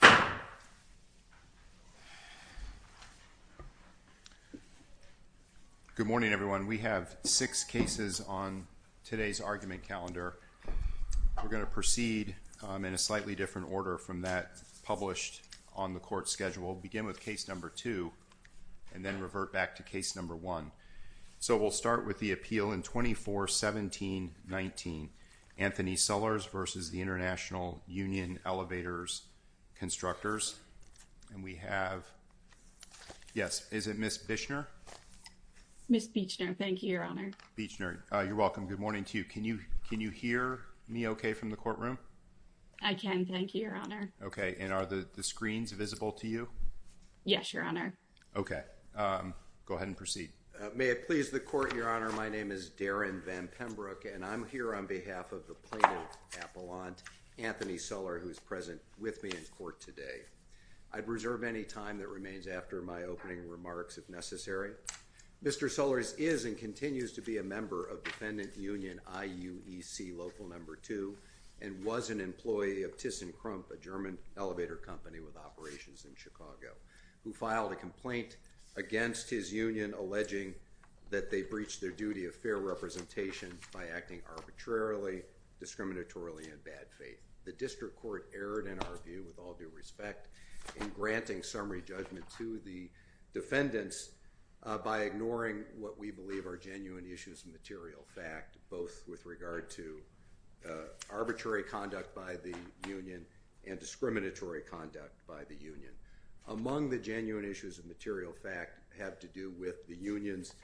Good morning, everyone. We have six cases on today's argument calendar. We're going to proceed in a slightly different order from that published on the court schedule. We'll begin with case number two and then revert back to case number one. So we'll start with the appeal in 24-17-19, Anthony Sullers v. International Union Elevator Constructors. We have, yes, is it Ms. Bichner? Ms. Bichner, thank you, Your Honor. Bichner, you're welcome. Good morning to you. Can you hear me okay from the courtroom? I can, thank you, Your Honor. Okay, and are the screens visible to you? Yes, Your Honor. Okay, go ahead and proceed. May it please the court, Your Honor, my name is Darren Van Pembroke and I'm here on behalf of the plaintiff appellant, Anthony Suller, who is present with me in court today. I'd reserve any time that remains after my opening remarks if necessary. Mr. Sullers is and continues to be a member of Defendant Union IUEC Local No. 2 and was an employee of ThyssenKrump, a German elevator company with operations in Chicago, who filed a complaint against his union alleging that they breached their duty of fair representation by acting arbitrarily, discriminatorily, and in bad faith. The district court erred in our view, with all due respect, in granting summary judgment to the defendants by ignoring what we believe are genuine issues of material fact, both with regard to arbitrary conduct by the union and discriminatory conduct by the union. Among the genuine issues of material fact have to do with the union's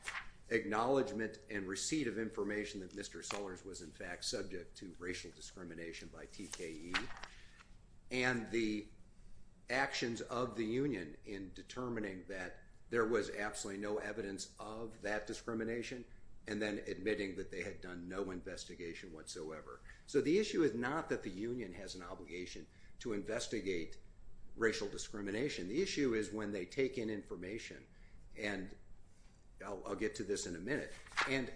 acknowledgment and receipt of information that Mr. Sullers was in fact subject to racial discrimination by TKE and the actions of the union in determining that there was absolutely no evidence of that discrimination and then admitting that they had done no investigation whatsoever. So the issue is not that the union has an obligation to investigate racial discrimination. The issue is when they take in information, and I'll get to this in a minute, and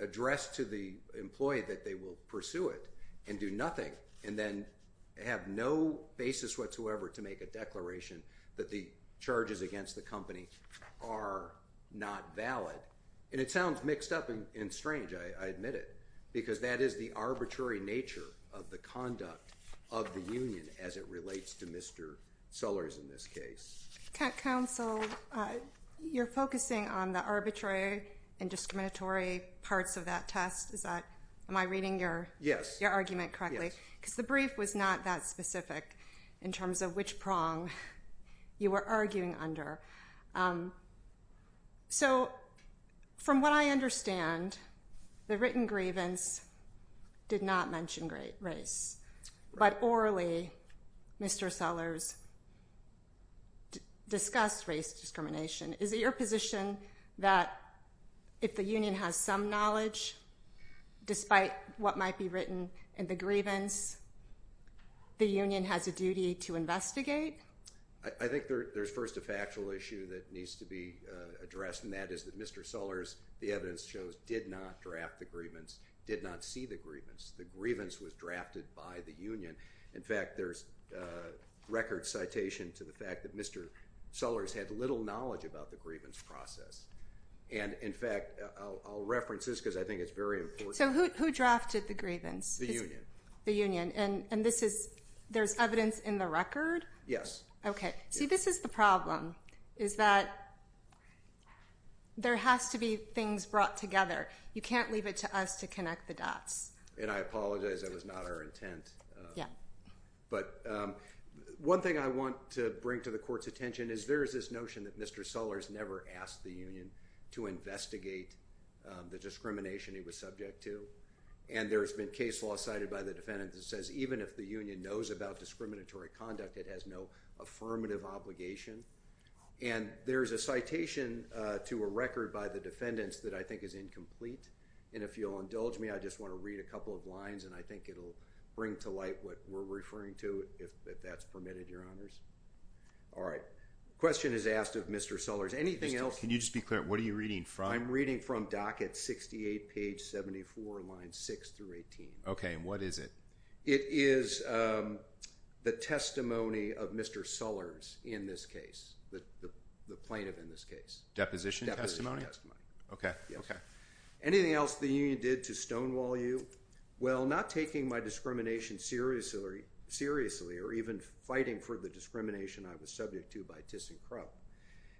address to the employee that they will pursue it and do nothing and then have no basis whatsoever to make a declaration that the charges against the company are not valid. And it sounds mixed up and strange, I admit it, because that is the arbitrary nature of the conduct of the union as it relates to Mr. Sullers in this case. Counsel, you're focusing on the arbitrary and discriminatory parts of that test. Am I reading your argument correctly? Yes. Because the brief was not that specific in terms of which prong you were arguing under. So, from what I understand, the written grievance did not mention race, but orally Mr. Sullers discussed race discrimination. Is it your position that if the union has some knowledge, despite what might be written in the grievance, the union has a duty to investigate? I think there's first a factual issue that needs to be addressed, and that is that Mr. Sullers, the evidence shows, did not draft the grievance, did not see the grievance. The grievance was drafted by the union. In fact, there's record citation to the fact that Mr. Sullers had little knowledge about the grievance process. And in fact, I'll reference this because I think it's very important. So who drafted the grievance? The union. The union. And there's evidence in the record? Yes. Okay. See, this is the problem, is that there has to be things brought together. You can't leave it to us to connect the dots. And I apologize, that was not our intent. But one thing I want to bring to the court's attention is there is this notion that Mr. Sullers never asked the union to investigate the discrimination he was subject to. And there's been case law cited by the defendant that says even if the union knows about discriminatory conduct, it has no affirmative obligation. And there's a citation to a record by the defendants that I think is incomplete. And if you'll indulge me, I just want to read a couple of lines and I think it'll bring to light what we're referring to, if that's permitted, your honors. All right. Question is asked of Mr. Sullers. Anything else? Can you just be clear, what are you reading from? I'm reading from docket 68, page 74, line 6 through 18. Okay. And what is it? It is the testimony of Mr. Sullers in this case, the plaintiff in this case. Deposition testimony? Okay. Okay. Anything else the union did to stonewall you? Well, not taking my discrimination seriously or even fighting for the discrimination I was subject to by Tiss and Crub.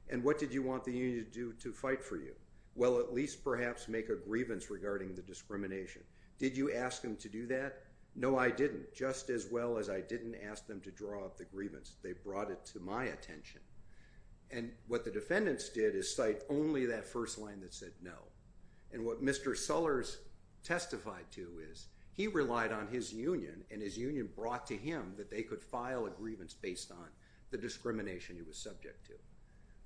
And what did you want the union to do to fight for you? Well, at least perhaps make a grievance regarding the discrimination. Did you ask them to do that? No, I didn't, just as well as I didn't ask them to draw up the grievance. They brought it to my attention. And what the defendants did is cite only that first line that said no. And what Mr. Sullers testified to is he relied on his union and his union brought to him that they could file a grievance based on the discrimination he was subject to.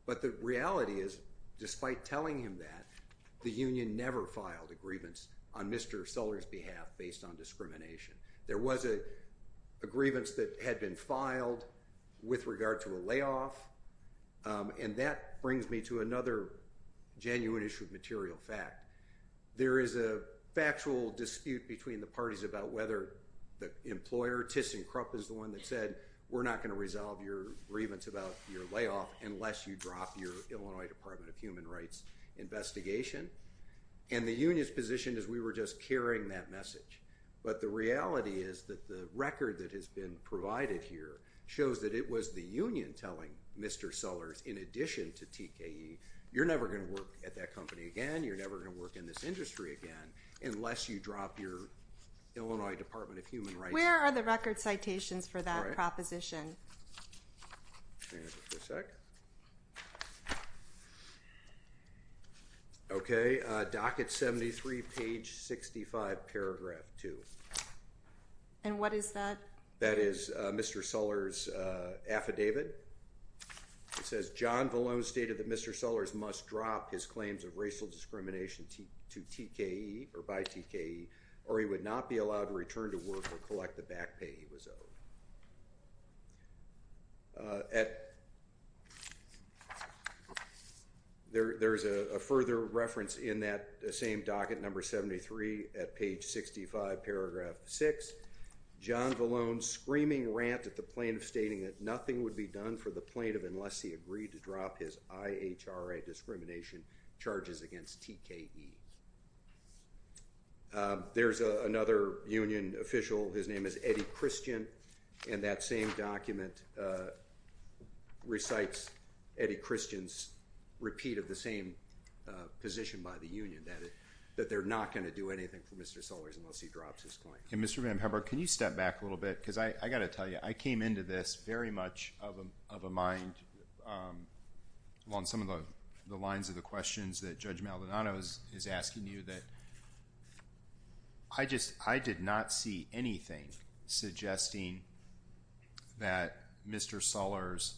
But the reality is, despite telling him that, the union never filed a grievance on Mr. Sullers' behalf based on discrimination. There was a grievance that had been filed with regard to a layoff. And that brings me to another genuine issue of material fact. There is a factual dispute between the parties about whether the employer, Tiss and Crub, is the one that said we're not going to resolve your grievance about your layoff unless you drop your Illinois Department of Human Rights investigation. And the union's position is we were just carrying that message. But the reality is that the record that has been provided here shows that it was the union telling Mr. Sullers, in addition to TKE, you're never going to work at that company again, you're never going to work in this industry again, unless you drop your Illinois Department of Human Rights investigation. Where are the record citations for that proposition? Hang on just a sec. Okay, docket 73, page 65, paragraph 2. And what is that? That is Mr. Sullers' affidavit. It says, John Valone stated that Mr. Sullers must drop his claims of racial discrimination to TKE or by TKE, or he would not be allowed to return to work or collect the back pay he was owed. There's a further reference in that same docket, number 73, at page 65, paragraph 6. John Valone's screaming rant at the plaintiff stating that nothing would be done for the plaintiff unless he agreed to drop his IHRA discrimination charges against TKE. There's another union official, his name is Eddie Christian, and that same document recites Eddie Christian's repeat of the same position by the union, that they're not going to do anything for Mr. Sullers unless he drops his claim. And Mr. VanPepper, can you step back a little bit, because I've got to tell you, I came into this very much of a mind, along some of the lines of the questions that Judge Maldonado is asking you, that I just, I did not see anything suggesting that Mr. Sullers,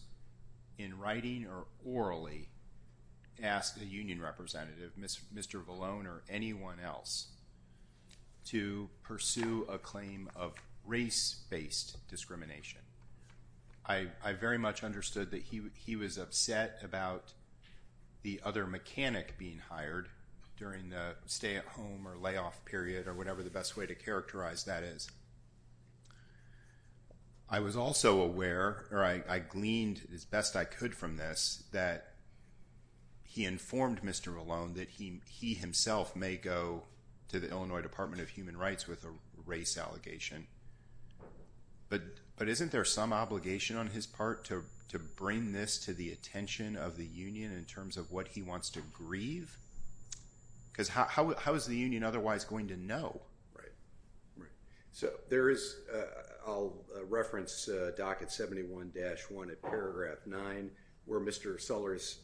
in writing or orally, asked a union representative, Mr. Valone or anyone else, to pursue a claim of race-based discrimination. I very much understood that he was upset about the other mechanic being hired during the stay at home or layoff period, or whatever the best way to characterize that is. I was also aware, or I gleaned as best I could from this, that he informed Mr. Sullers that he himself may go to the Illinois Department of Human Rights with a race allegation. But isn't there some obligation on his part to bring this to the attention of the union in terms of what he wants to grieve? Because how is the union otherwise going to know? So there is, I'll reference Docket 71-1 at paragraph 9, where Mr. Sullers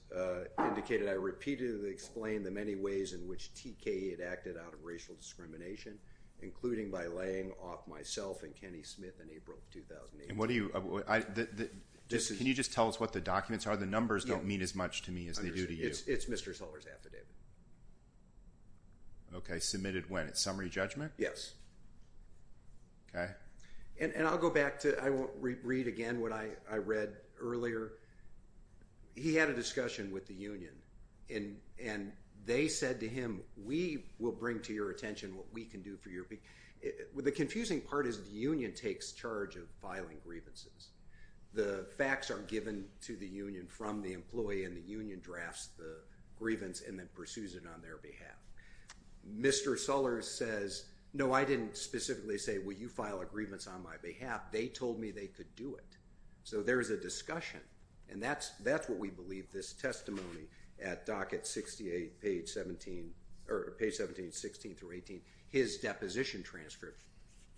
indicated, I repeatedly explained the many ways in which TKE had acted out of racial discrimination, including by laying off myself and Kenny Smith in April of 2018. And what do you, can you just tell us what the documents are? The numbers don't mean as much to me as they do to you. It's Mr. Sullers' affidavit. Okay, submitted when? At summary judgment? Yes. Okay. And I'll go back to, I won't read again what I read earlier. He had a discussion with the union and they said to him, we will bring to your attention what we can do for you. The confusing part is the union takes charge of filing grievances. The facts are given to the union from the employee and the union drafts the grievance and then pursues it on their behalf. Mr. Sullers says, no, I didn't specifically say, will you file a grievance on my behalf? They told me they could do it. So there's a discussion. And that's what we believe this testimony at docket 68, page 17, or page 17, 16 through 18, his deposition transcript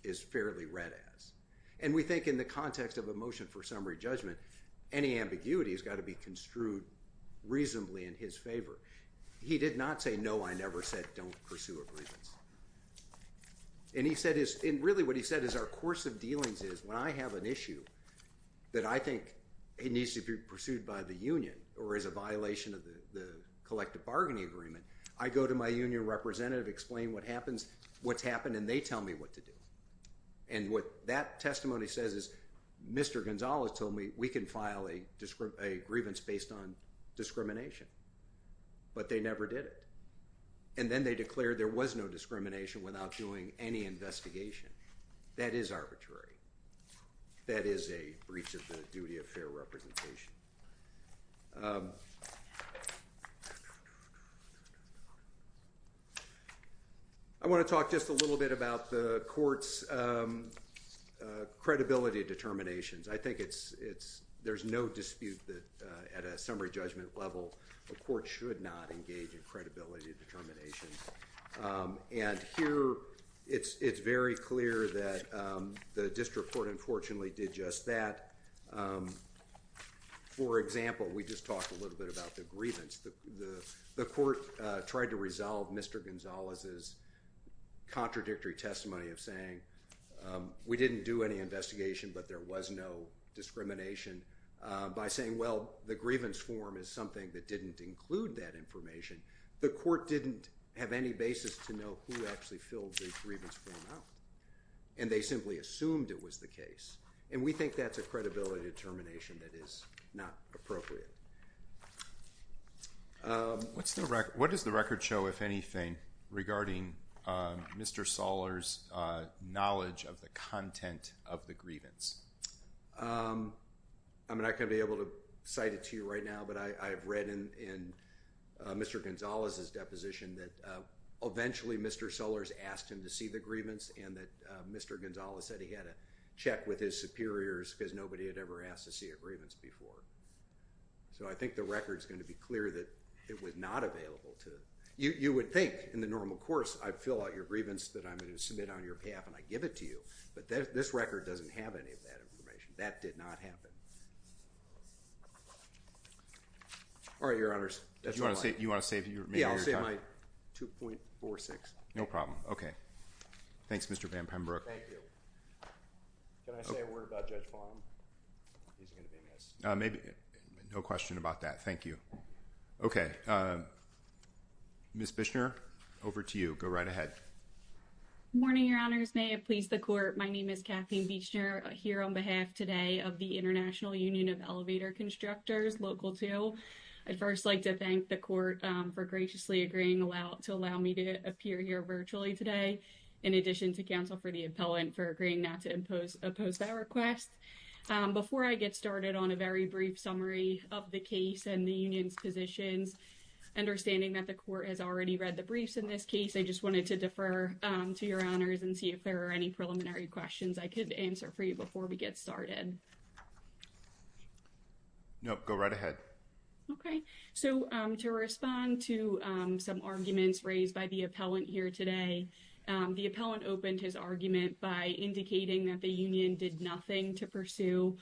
is fairly read as. And we think in the context of a motion for summary judgment, any ambiguity has got to be construed reasonably in his favor. He did not say, no, I never said don't pursue a grievance. And he said his, and really what he said is our course of dealings is when I have an issue that I think it needs to be pursued by the union or is a violation of the collective bargaining agreement, I go to my union representative, explain what happens, what's happened, and they tell me what to do. And what that testimony says is Mr. Gonzales told me we can file a grievance based on discrimination, but they never did it. And then they declared there was no discrimination without doing any investigation. That is arbitrary. That is a breach of the duty of fair representation. I want to talk just a little bit about the court's credibility determinations. I think it's, there's no dispute that at a summary judgment level, a court should not engage in credibility determinations. And here, it's very clear that the district court unfortunately did just that. For example, we just talked a little bit about the grievance. The court tried to resolve Mr. Gonzales' contradictory testimony of saying we didn't do any investigation, but there was no discrimination by saying, well, the grievance form is something that didn't include that information. The court didn't have any basis to know who actually filled the grievance form out. And they simply assumed it was the case. And we think that's a credibility determination that is not appropriate. What's the record, what does the record show, if anything, regarding Mr. Soller's knowledge of the content of the grievance? I'm not going to be able to cite it to you right now, but I've read in Mr. Gonzales' deposition that eventually Mr. Soller's asked him to see the grievance and that Mr. Gonzales said he had to check with his superiors because nobody had ever asked to see a grievance before. So I think the record's going to be clear that it was not available to, you would think in the normal course, I'd fill out your grievance that I'm going to submit on your path and I'd give it to you. But this record doesn't have any of that information. That did not happen. All right, Your Honors, that's all I have. Do you want to save your time? Yeah, I'll save my 2.46. No problem. Okay. Thanks, Mr. Van Pembroek. Thank you. Can I say a word about Judge Fong? He's going to be missed. No question about that. Thank you. Okay. Ms. Bichner, over to you. Go right ahead. Good morning, Your Honors. May it please the Court, my name is Kathleen Bichner here on behalf today of the International Union of Elevator Constructors, Local 2. I'd first like to thank the Court for graciously agreeing to allow me to appear here virtually today, in addition to counsel for the appellant for agreeing not to impose that request. Before I get started on a very brief summary of the case and the union's positions, understanding that the Court has already read the briefs in this case, I just wanted to defer to Your Honors and see if there are any preliminary questions I could answer for you before we get started. Nope. Go right ahead. Okay. So to respond to some arguments raised by the appellant here today, the appellant opened his argument by indicating that the union did nothing to pursue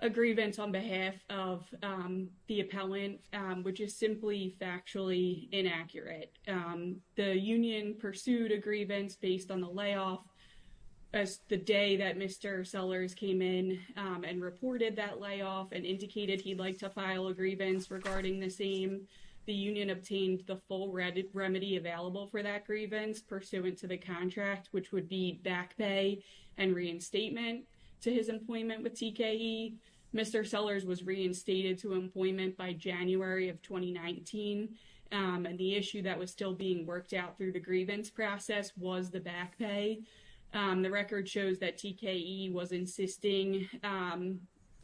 a grievance on behalf of the appellant, which is simply factually inaccurate. The union pursued a grievance based on the layoff as the day that Mr. Sellers came in and reported that layoff and indicated he'd like to file a grievance regarding the same. The union obtained the full remedy available for that grievance pursuant to the contract, which would be back pay and reinstatement to his employment with TKE. Mr. Sellers was reinstated to employment by January of 2019, and the issue that was still being worked out through the grievance process was the back pay. The record shows that TKE was insisting,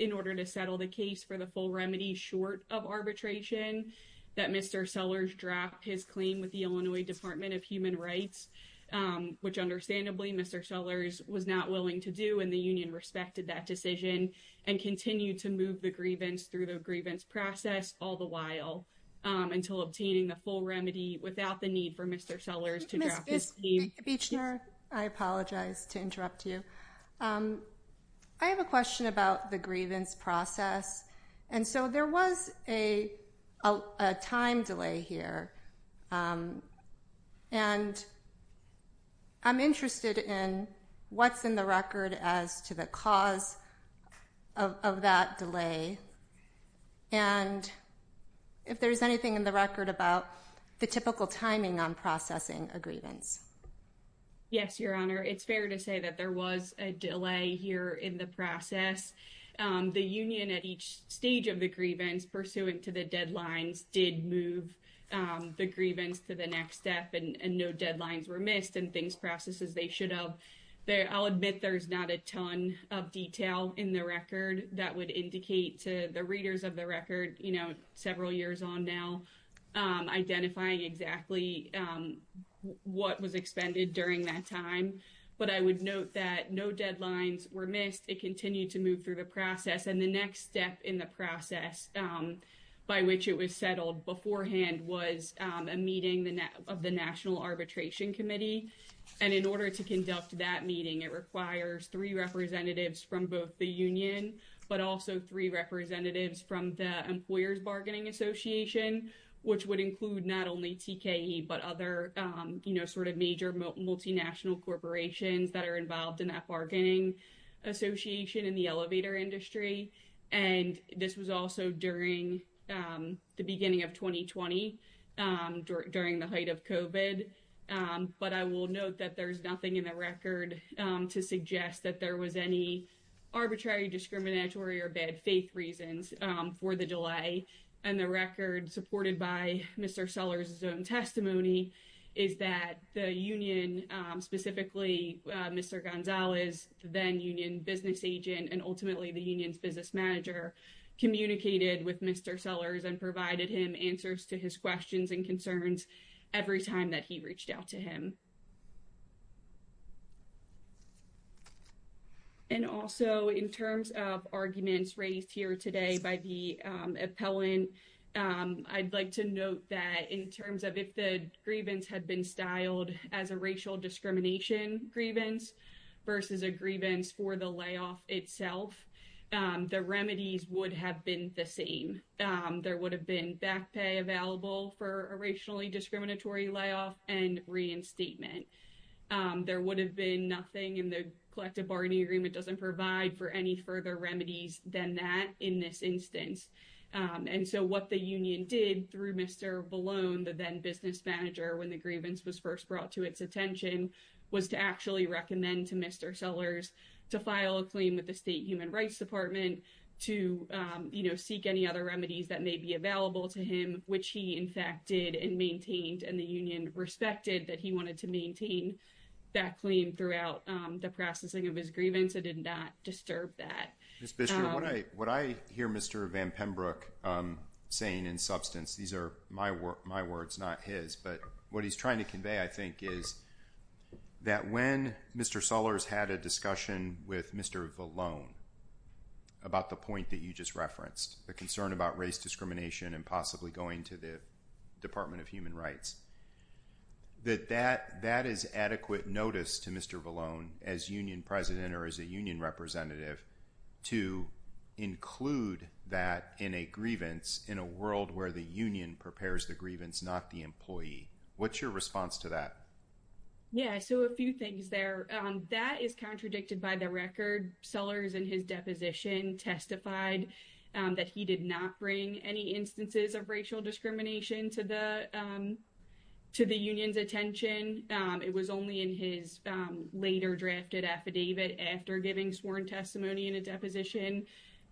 in order to settle the case for the full remedy short of arbitration, that Mr. Sellers drop his claim with the Illinois Department of Human Rights, which understandably Mr. Sellers was not willing to do, and the union respected that decision and continued to move the grievance through the grievance process all the while until obtaining the full remedy without the need for Mr. Sellers to drop his claim. Ms. Buechner, I apologize to interrupt you. I have a question about the grievance process. There was a time delay here, and I'm interested in what's in the record as to the cause of that delay, and if there's anything in the record about the typical timing on processing a grievance. Yes, Your Honor. It's fair to say that there was a delay here in the process. The union at each stage of the grievance, pursuing to the deadlines, did move the grievance to the next step, and no deadlines were missed in things, processes they should have. I'll admit there's not a ton of detail in the record that would indicate to the readers of the record, you know, several years on now, identifying exactly what was expended during that time, but I would note that no deadlines were missed. It continued to move through the process, and the next step in the process by which it was settled beforehand was a meeting of the National Arbitration Committee, and in order to conduct that meeting, it requires three representatives from both the union, but also three representatives from the Employers' Bargaining Association, which would include not only TKE, but other, you know, sort of major multinational corporations that are involved in that bargaining association in the elevator industry, and this was also during the beginning of 2020, during the height of COVID, but I will note that there's nothing in the record to suggest that there was any arbitrary, discriminatory, or bad faith reasons for the delay, and the record supported by Mr. Sellers' own testimony is that the union, specifically Mr. Gonzalez, then union business agent and ultimately the union's business manager, communicated with Mr. Sellers and provided him answers to his questions and concerns every time that he reached out to him. And also in terms of arguments raised here today by the appellant, I'd like to note that in terms of if the grievance had been styled as a racial discrimination grievance versus a grievance for the layoff itself, the remedies would have been the same. There would have been back pay available for a racially discriminatory layoff and reinstatement. There would have been nothing, and the collective bargaining agreement doesn't provide for any further remedies than that in this instance. And so what the union did through Mr. Ballone, the then business manager, when the grievance was first brought to its attention was to actually recommend to Mr. Sellers to file a claim with the State Human Rights Department to seek any other remedies that may be available to him, which he in fact did and maintained, and the union respected that he wanted to maintain that claim throughout the processing of his grievance. It did not disturb that. Ms. Bishop, what I hear Mr. Van Pembroek saying in substance, these are my words, not his, but what he's trying to convey I think is that when Mr. Sellers had a discussion with Mr. Ballone about the point that you just referenced, the concern about race discrimination and possibly going to the Department of Human Rights, that that is adequate notice to Mr. Ballone as union president or as a union representative to include that in a grievance in a world where the union prepares the grievance, not the employee. What's your response to that? Yeah, so a few things there. That is contradicted by the record. Sellers in his deposition testified that he did not bring any instances of racial discrimination to the union's attention. It was only in his later drafted affidavit after giving sworn testimony in a deposition,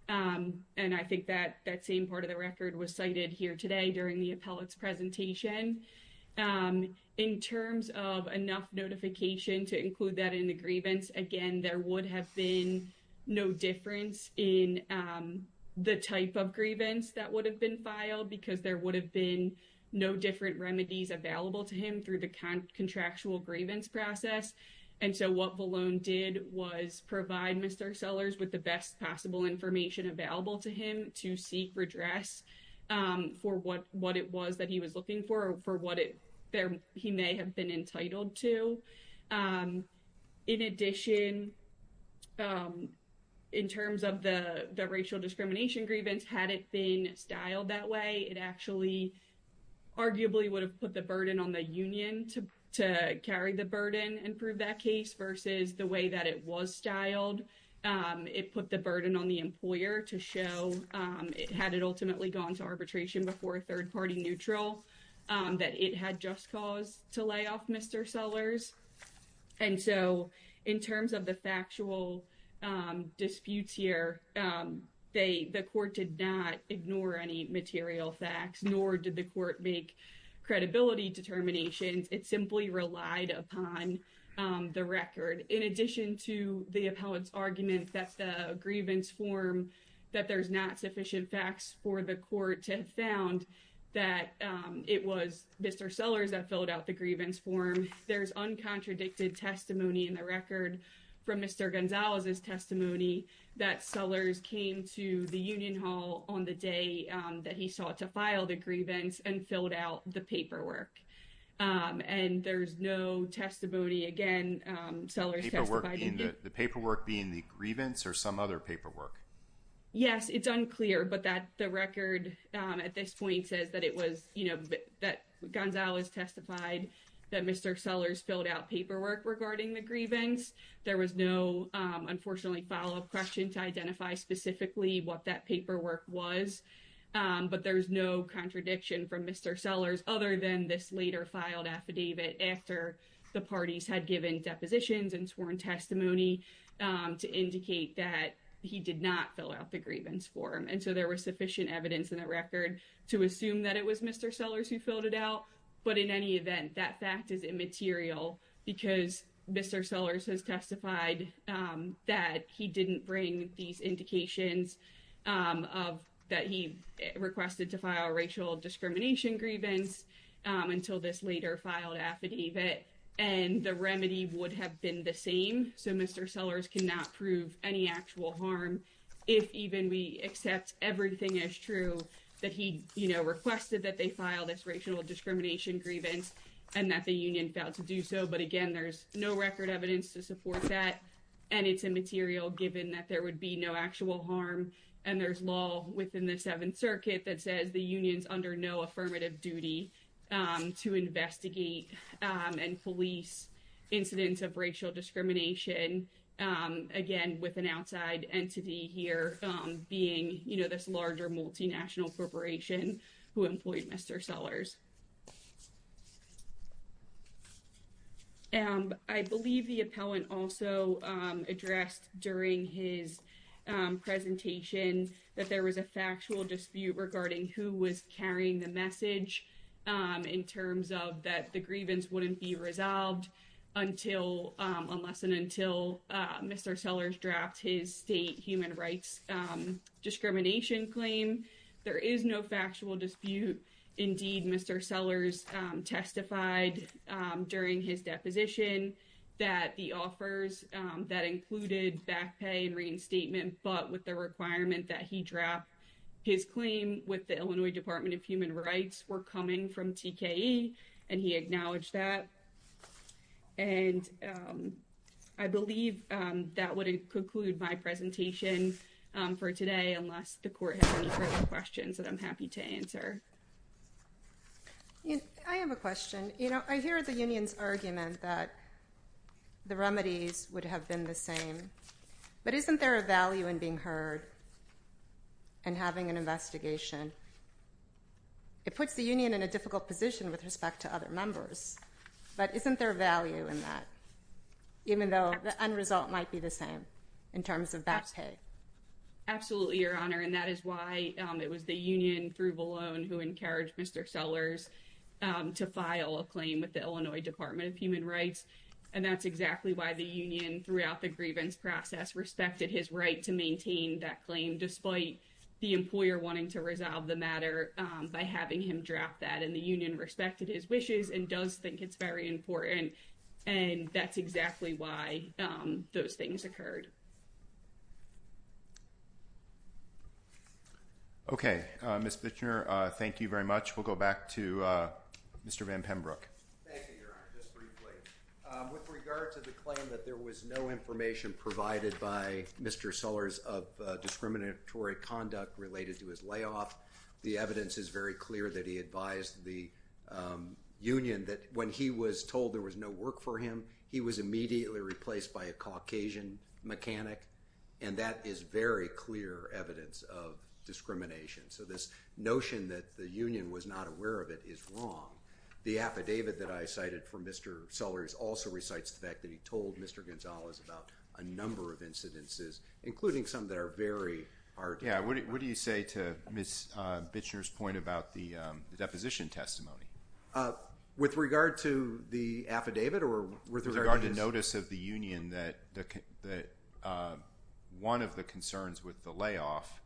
and I think that that same part of the record was cited here today during the appellate's presentation. In terms of enough notification to include that in the grievance, again, there would have been no difference in the type of grievance that would have been filed because there would have been no different remedies available to him through the contractual grievance process. And so what Ballone did was provide Mr. Sellers with the best possible information available to him to seek redress for what it was that he was looking for or for what he may have been entitled to. In addition, in terms of the racial discrimination grievance, had it been styled that way, it actually arguably would have put the burden on the union to carry the burden and prove that case, versus the way that it was styled. It put the burden on the employer to show, had it ultimately gone to arbitration before a third-party neutral, that it had just cause to lay off Mr. Sellers. And so in terms of the factual disputes here, the court did not ignore any material facts, nor did the court make credibility determinations. It simply relied upon the record. In addition to the appellate's argument that the grievance form, that there's not sufficient facts for the court to have found that it was Mr. Sellers that filled out the grievance form, there's uncontradicted testimony in the record from Mr. Gonzalez's testimony that Sellers came to the union hall on the day that he sought to file the grievance and filled out the paperwork. And there's no testimony, again, Sellers testified in the... Yes, it's unclear, but that the record at this point says that it was, you know, that Gonzalez testified that Mr. Sellers filled out paperwork regarding the grievance. There was no, unfortunately, follow-up question to identify specifically what that paperwork was. But there's no contradiction from Mr. Sellers other than this later filed affidavit after the parties had given depositions and sworn testimony to indicate that he did not fill out the grievance form. And so there was sufficient evidence in the record to assume that it was Mr. Sellers who filled it out. But in any event, that fact is immaterial because Mr. Sellers has testified that he didn't bring these indications that he requested to file racial discrimination grievance until this later filed affidavit. And the remedy would have been the same. So Mr. Sellers cannot prove any actual harm if even we accept everything as true that he, you know, requested that they file this racial discrimination grievance and that the union failed to do so. But again, there's no record evidence to support that. And it's immaterial given that there would be no actual harm. And there's law within the Seventh Circuit that says the union's under no affirmative duty to investigate and police incidents of racial discrimination. Again, with an outside entity here being, you know, this larger multinational corporation who employed Mr. Sellers. I believe the appellant also addressed during his presentation that there was a factual dispute regarding who was carrying the message in terms of that the grievance wouldn't be resolved unless and until Mr. Sellers dropped his state human rights discrimination claim. There is no factual dispute. Indeed, Mr. Sellers testified during his deposition that the offers that included back pay and reinstatement but with the requirement that he drop his claim with the Illinois Department of Human Rights were coming from TKE and he acknowledged that. And I believe that would conclude my presentation for today unless the court has any further questions that I'm happy to answer. I have a question. You know, I hear the union's argument that the remedies would have been the same. But isn't there a value in being heard and having an investigation? It puts the union in a difficult position with respect to other members. But isn't there value in that? Even though the end result might be the same in terms of back pay. Absolutely, Your Honor. And that is why it was the union through Valone who encouraged Mr. Sellers to file a claim with the Illinois Department of Human Rights. And that's exactly why the union throughout the grievance process respected his right to maintain that claim despite the employer wanting to resolve the matter by having him drop that. And the union respected his wishes and does think it's very important. And that's exactly why those things occurred. Okay. Ms. Bichner, thank you very much. We'll go back to Mr. Van Pembroek. Thank you, Your Honor. Just briefly. With regard to the claim that there was no information provided by Mr. Sellers of discriminatory conduct related to his layoff, the evidence is very clear that he advised the union that when he was told there was no work for him, he was immediately replaced by a Caucasian mechanic. And that is very clear evidence of discrimination. So this notion that the union was not aware of it is wrong. The affidavit that I cited for Mr. Sellers also recites the fact that he told Mr. Gonzalez about a number of incidences, including some that are very hard to find. What do you say to Ms. Bichner's point about the deposition testimony? With regard to the affidavit or with regard to this? With regard to notice of the union that one of the concerns with the layoff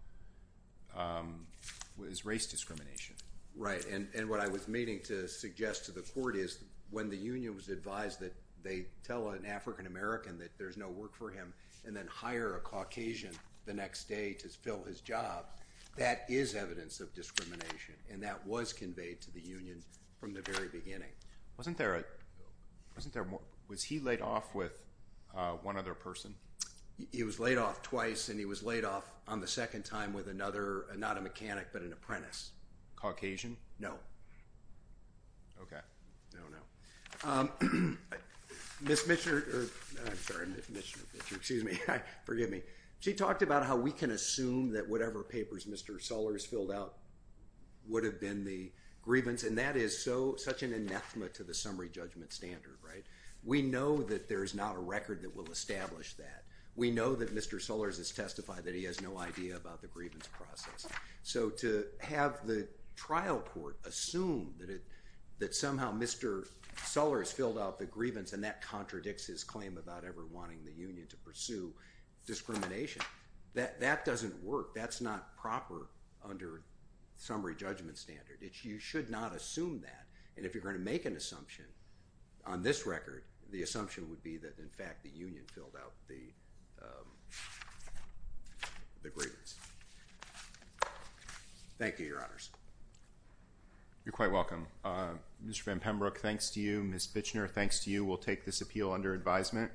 was race discrimination. Right. And what I was meaning to suggest to the court is when the union was advised that they tell an African American that there's no work for him and then hire a Caucasian the next day to fill his job, that is evidence of discrimination, and that was conveyed to the union from the very beginning. Wasn't there a – wasn't there – was he laid off with one other person? He was laid off twice, and he was laid off on the second time with another – not a mechanic, but an apprentice. Caucasian? No. Okay. No, no. Ms. Bichner – I'm sorry, Ms. Bichner. Excuse me. Forgive me. She talked about how we can assume that whatever papers Mr. Sellers filled out would have been the grievance, and that is such an anathema to the summary judgment standard, right? We know that there is not a record that will establish that. We know that Mr. Sellers has testified that he has no idea about the grievance process. So to have the trial court assume that somehow Mr. Sellers filled out the grievance and that contradicts his claim about ever wanting the union to pursue discrimination, that doesn't work. That's not proper under summary judgment standard. You should not assume that, and if you're going to make an assumption on this record, the assumption would be that, in fact, the union filled out the grievance. Thank you, Your Honors. You're quite welcome. Mr. Van Pembroek, thanks to you. Ms. Bichner, thanks to you. We'll take this appeal under advisement.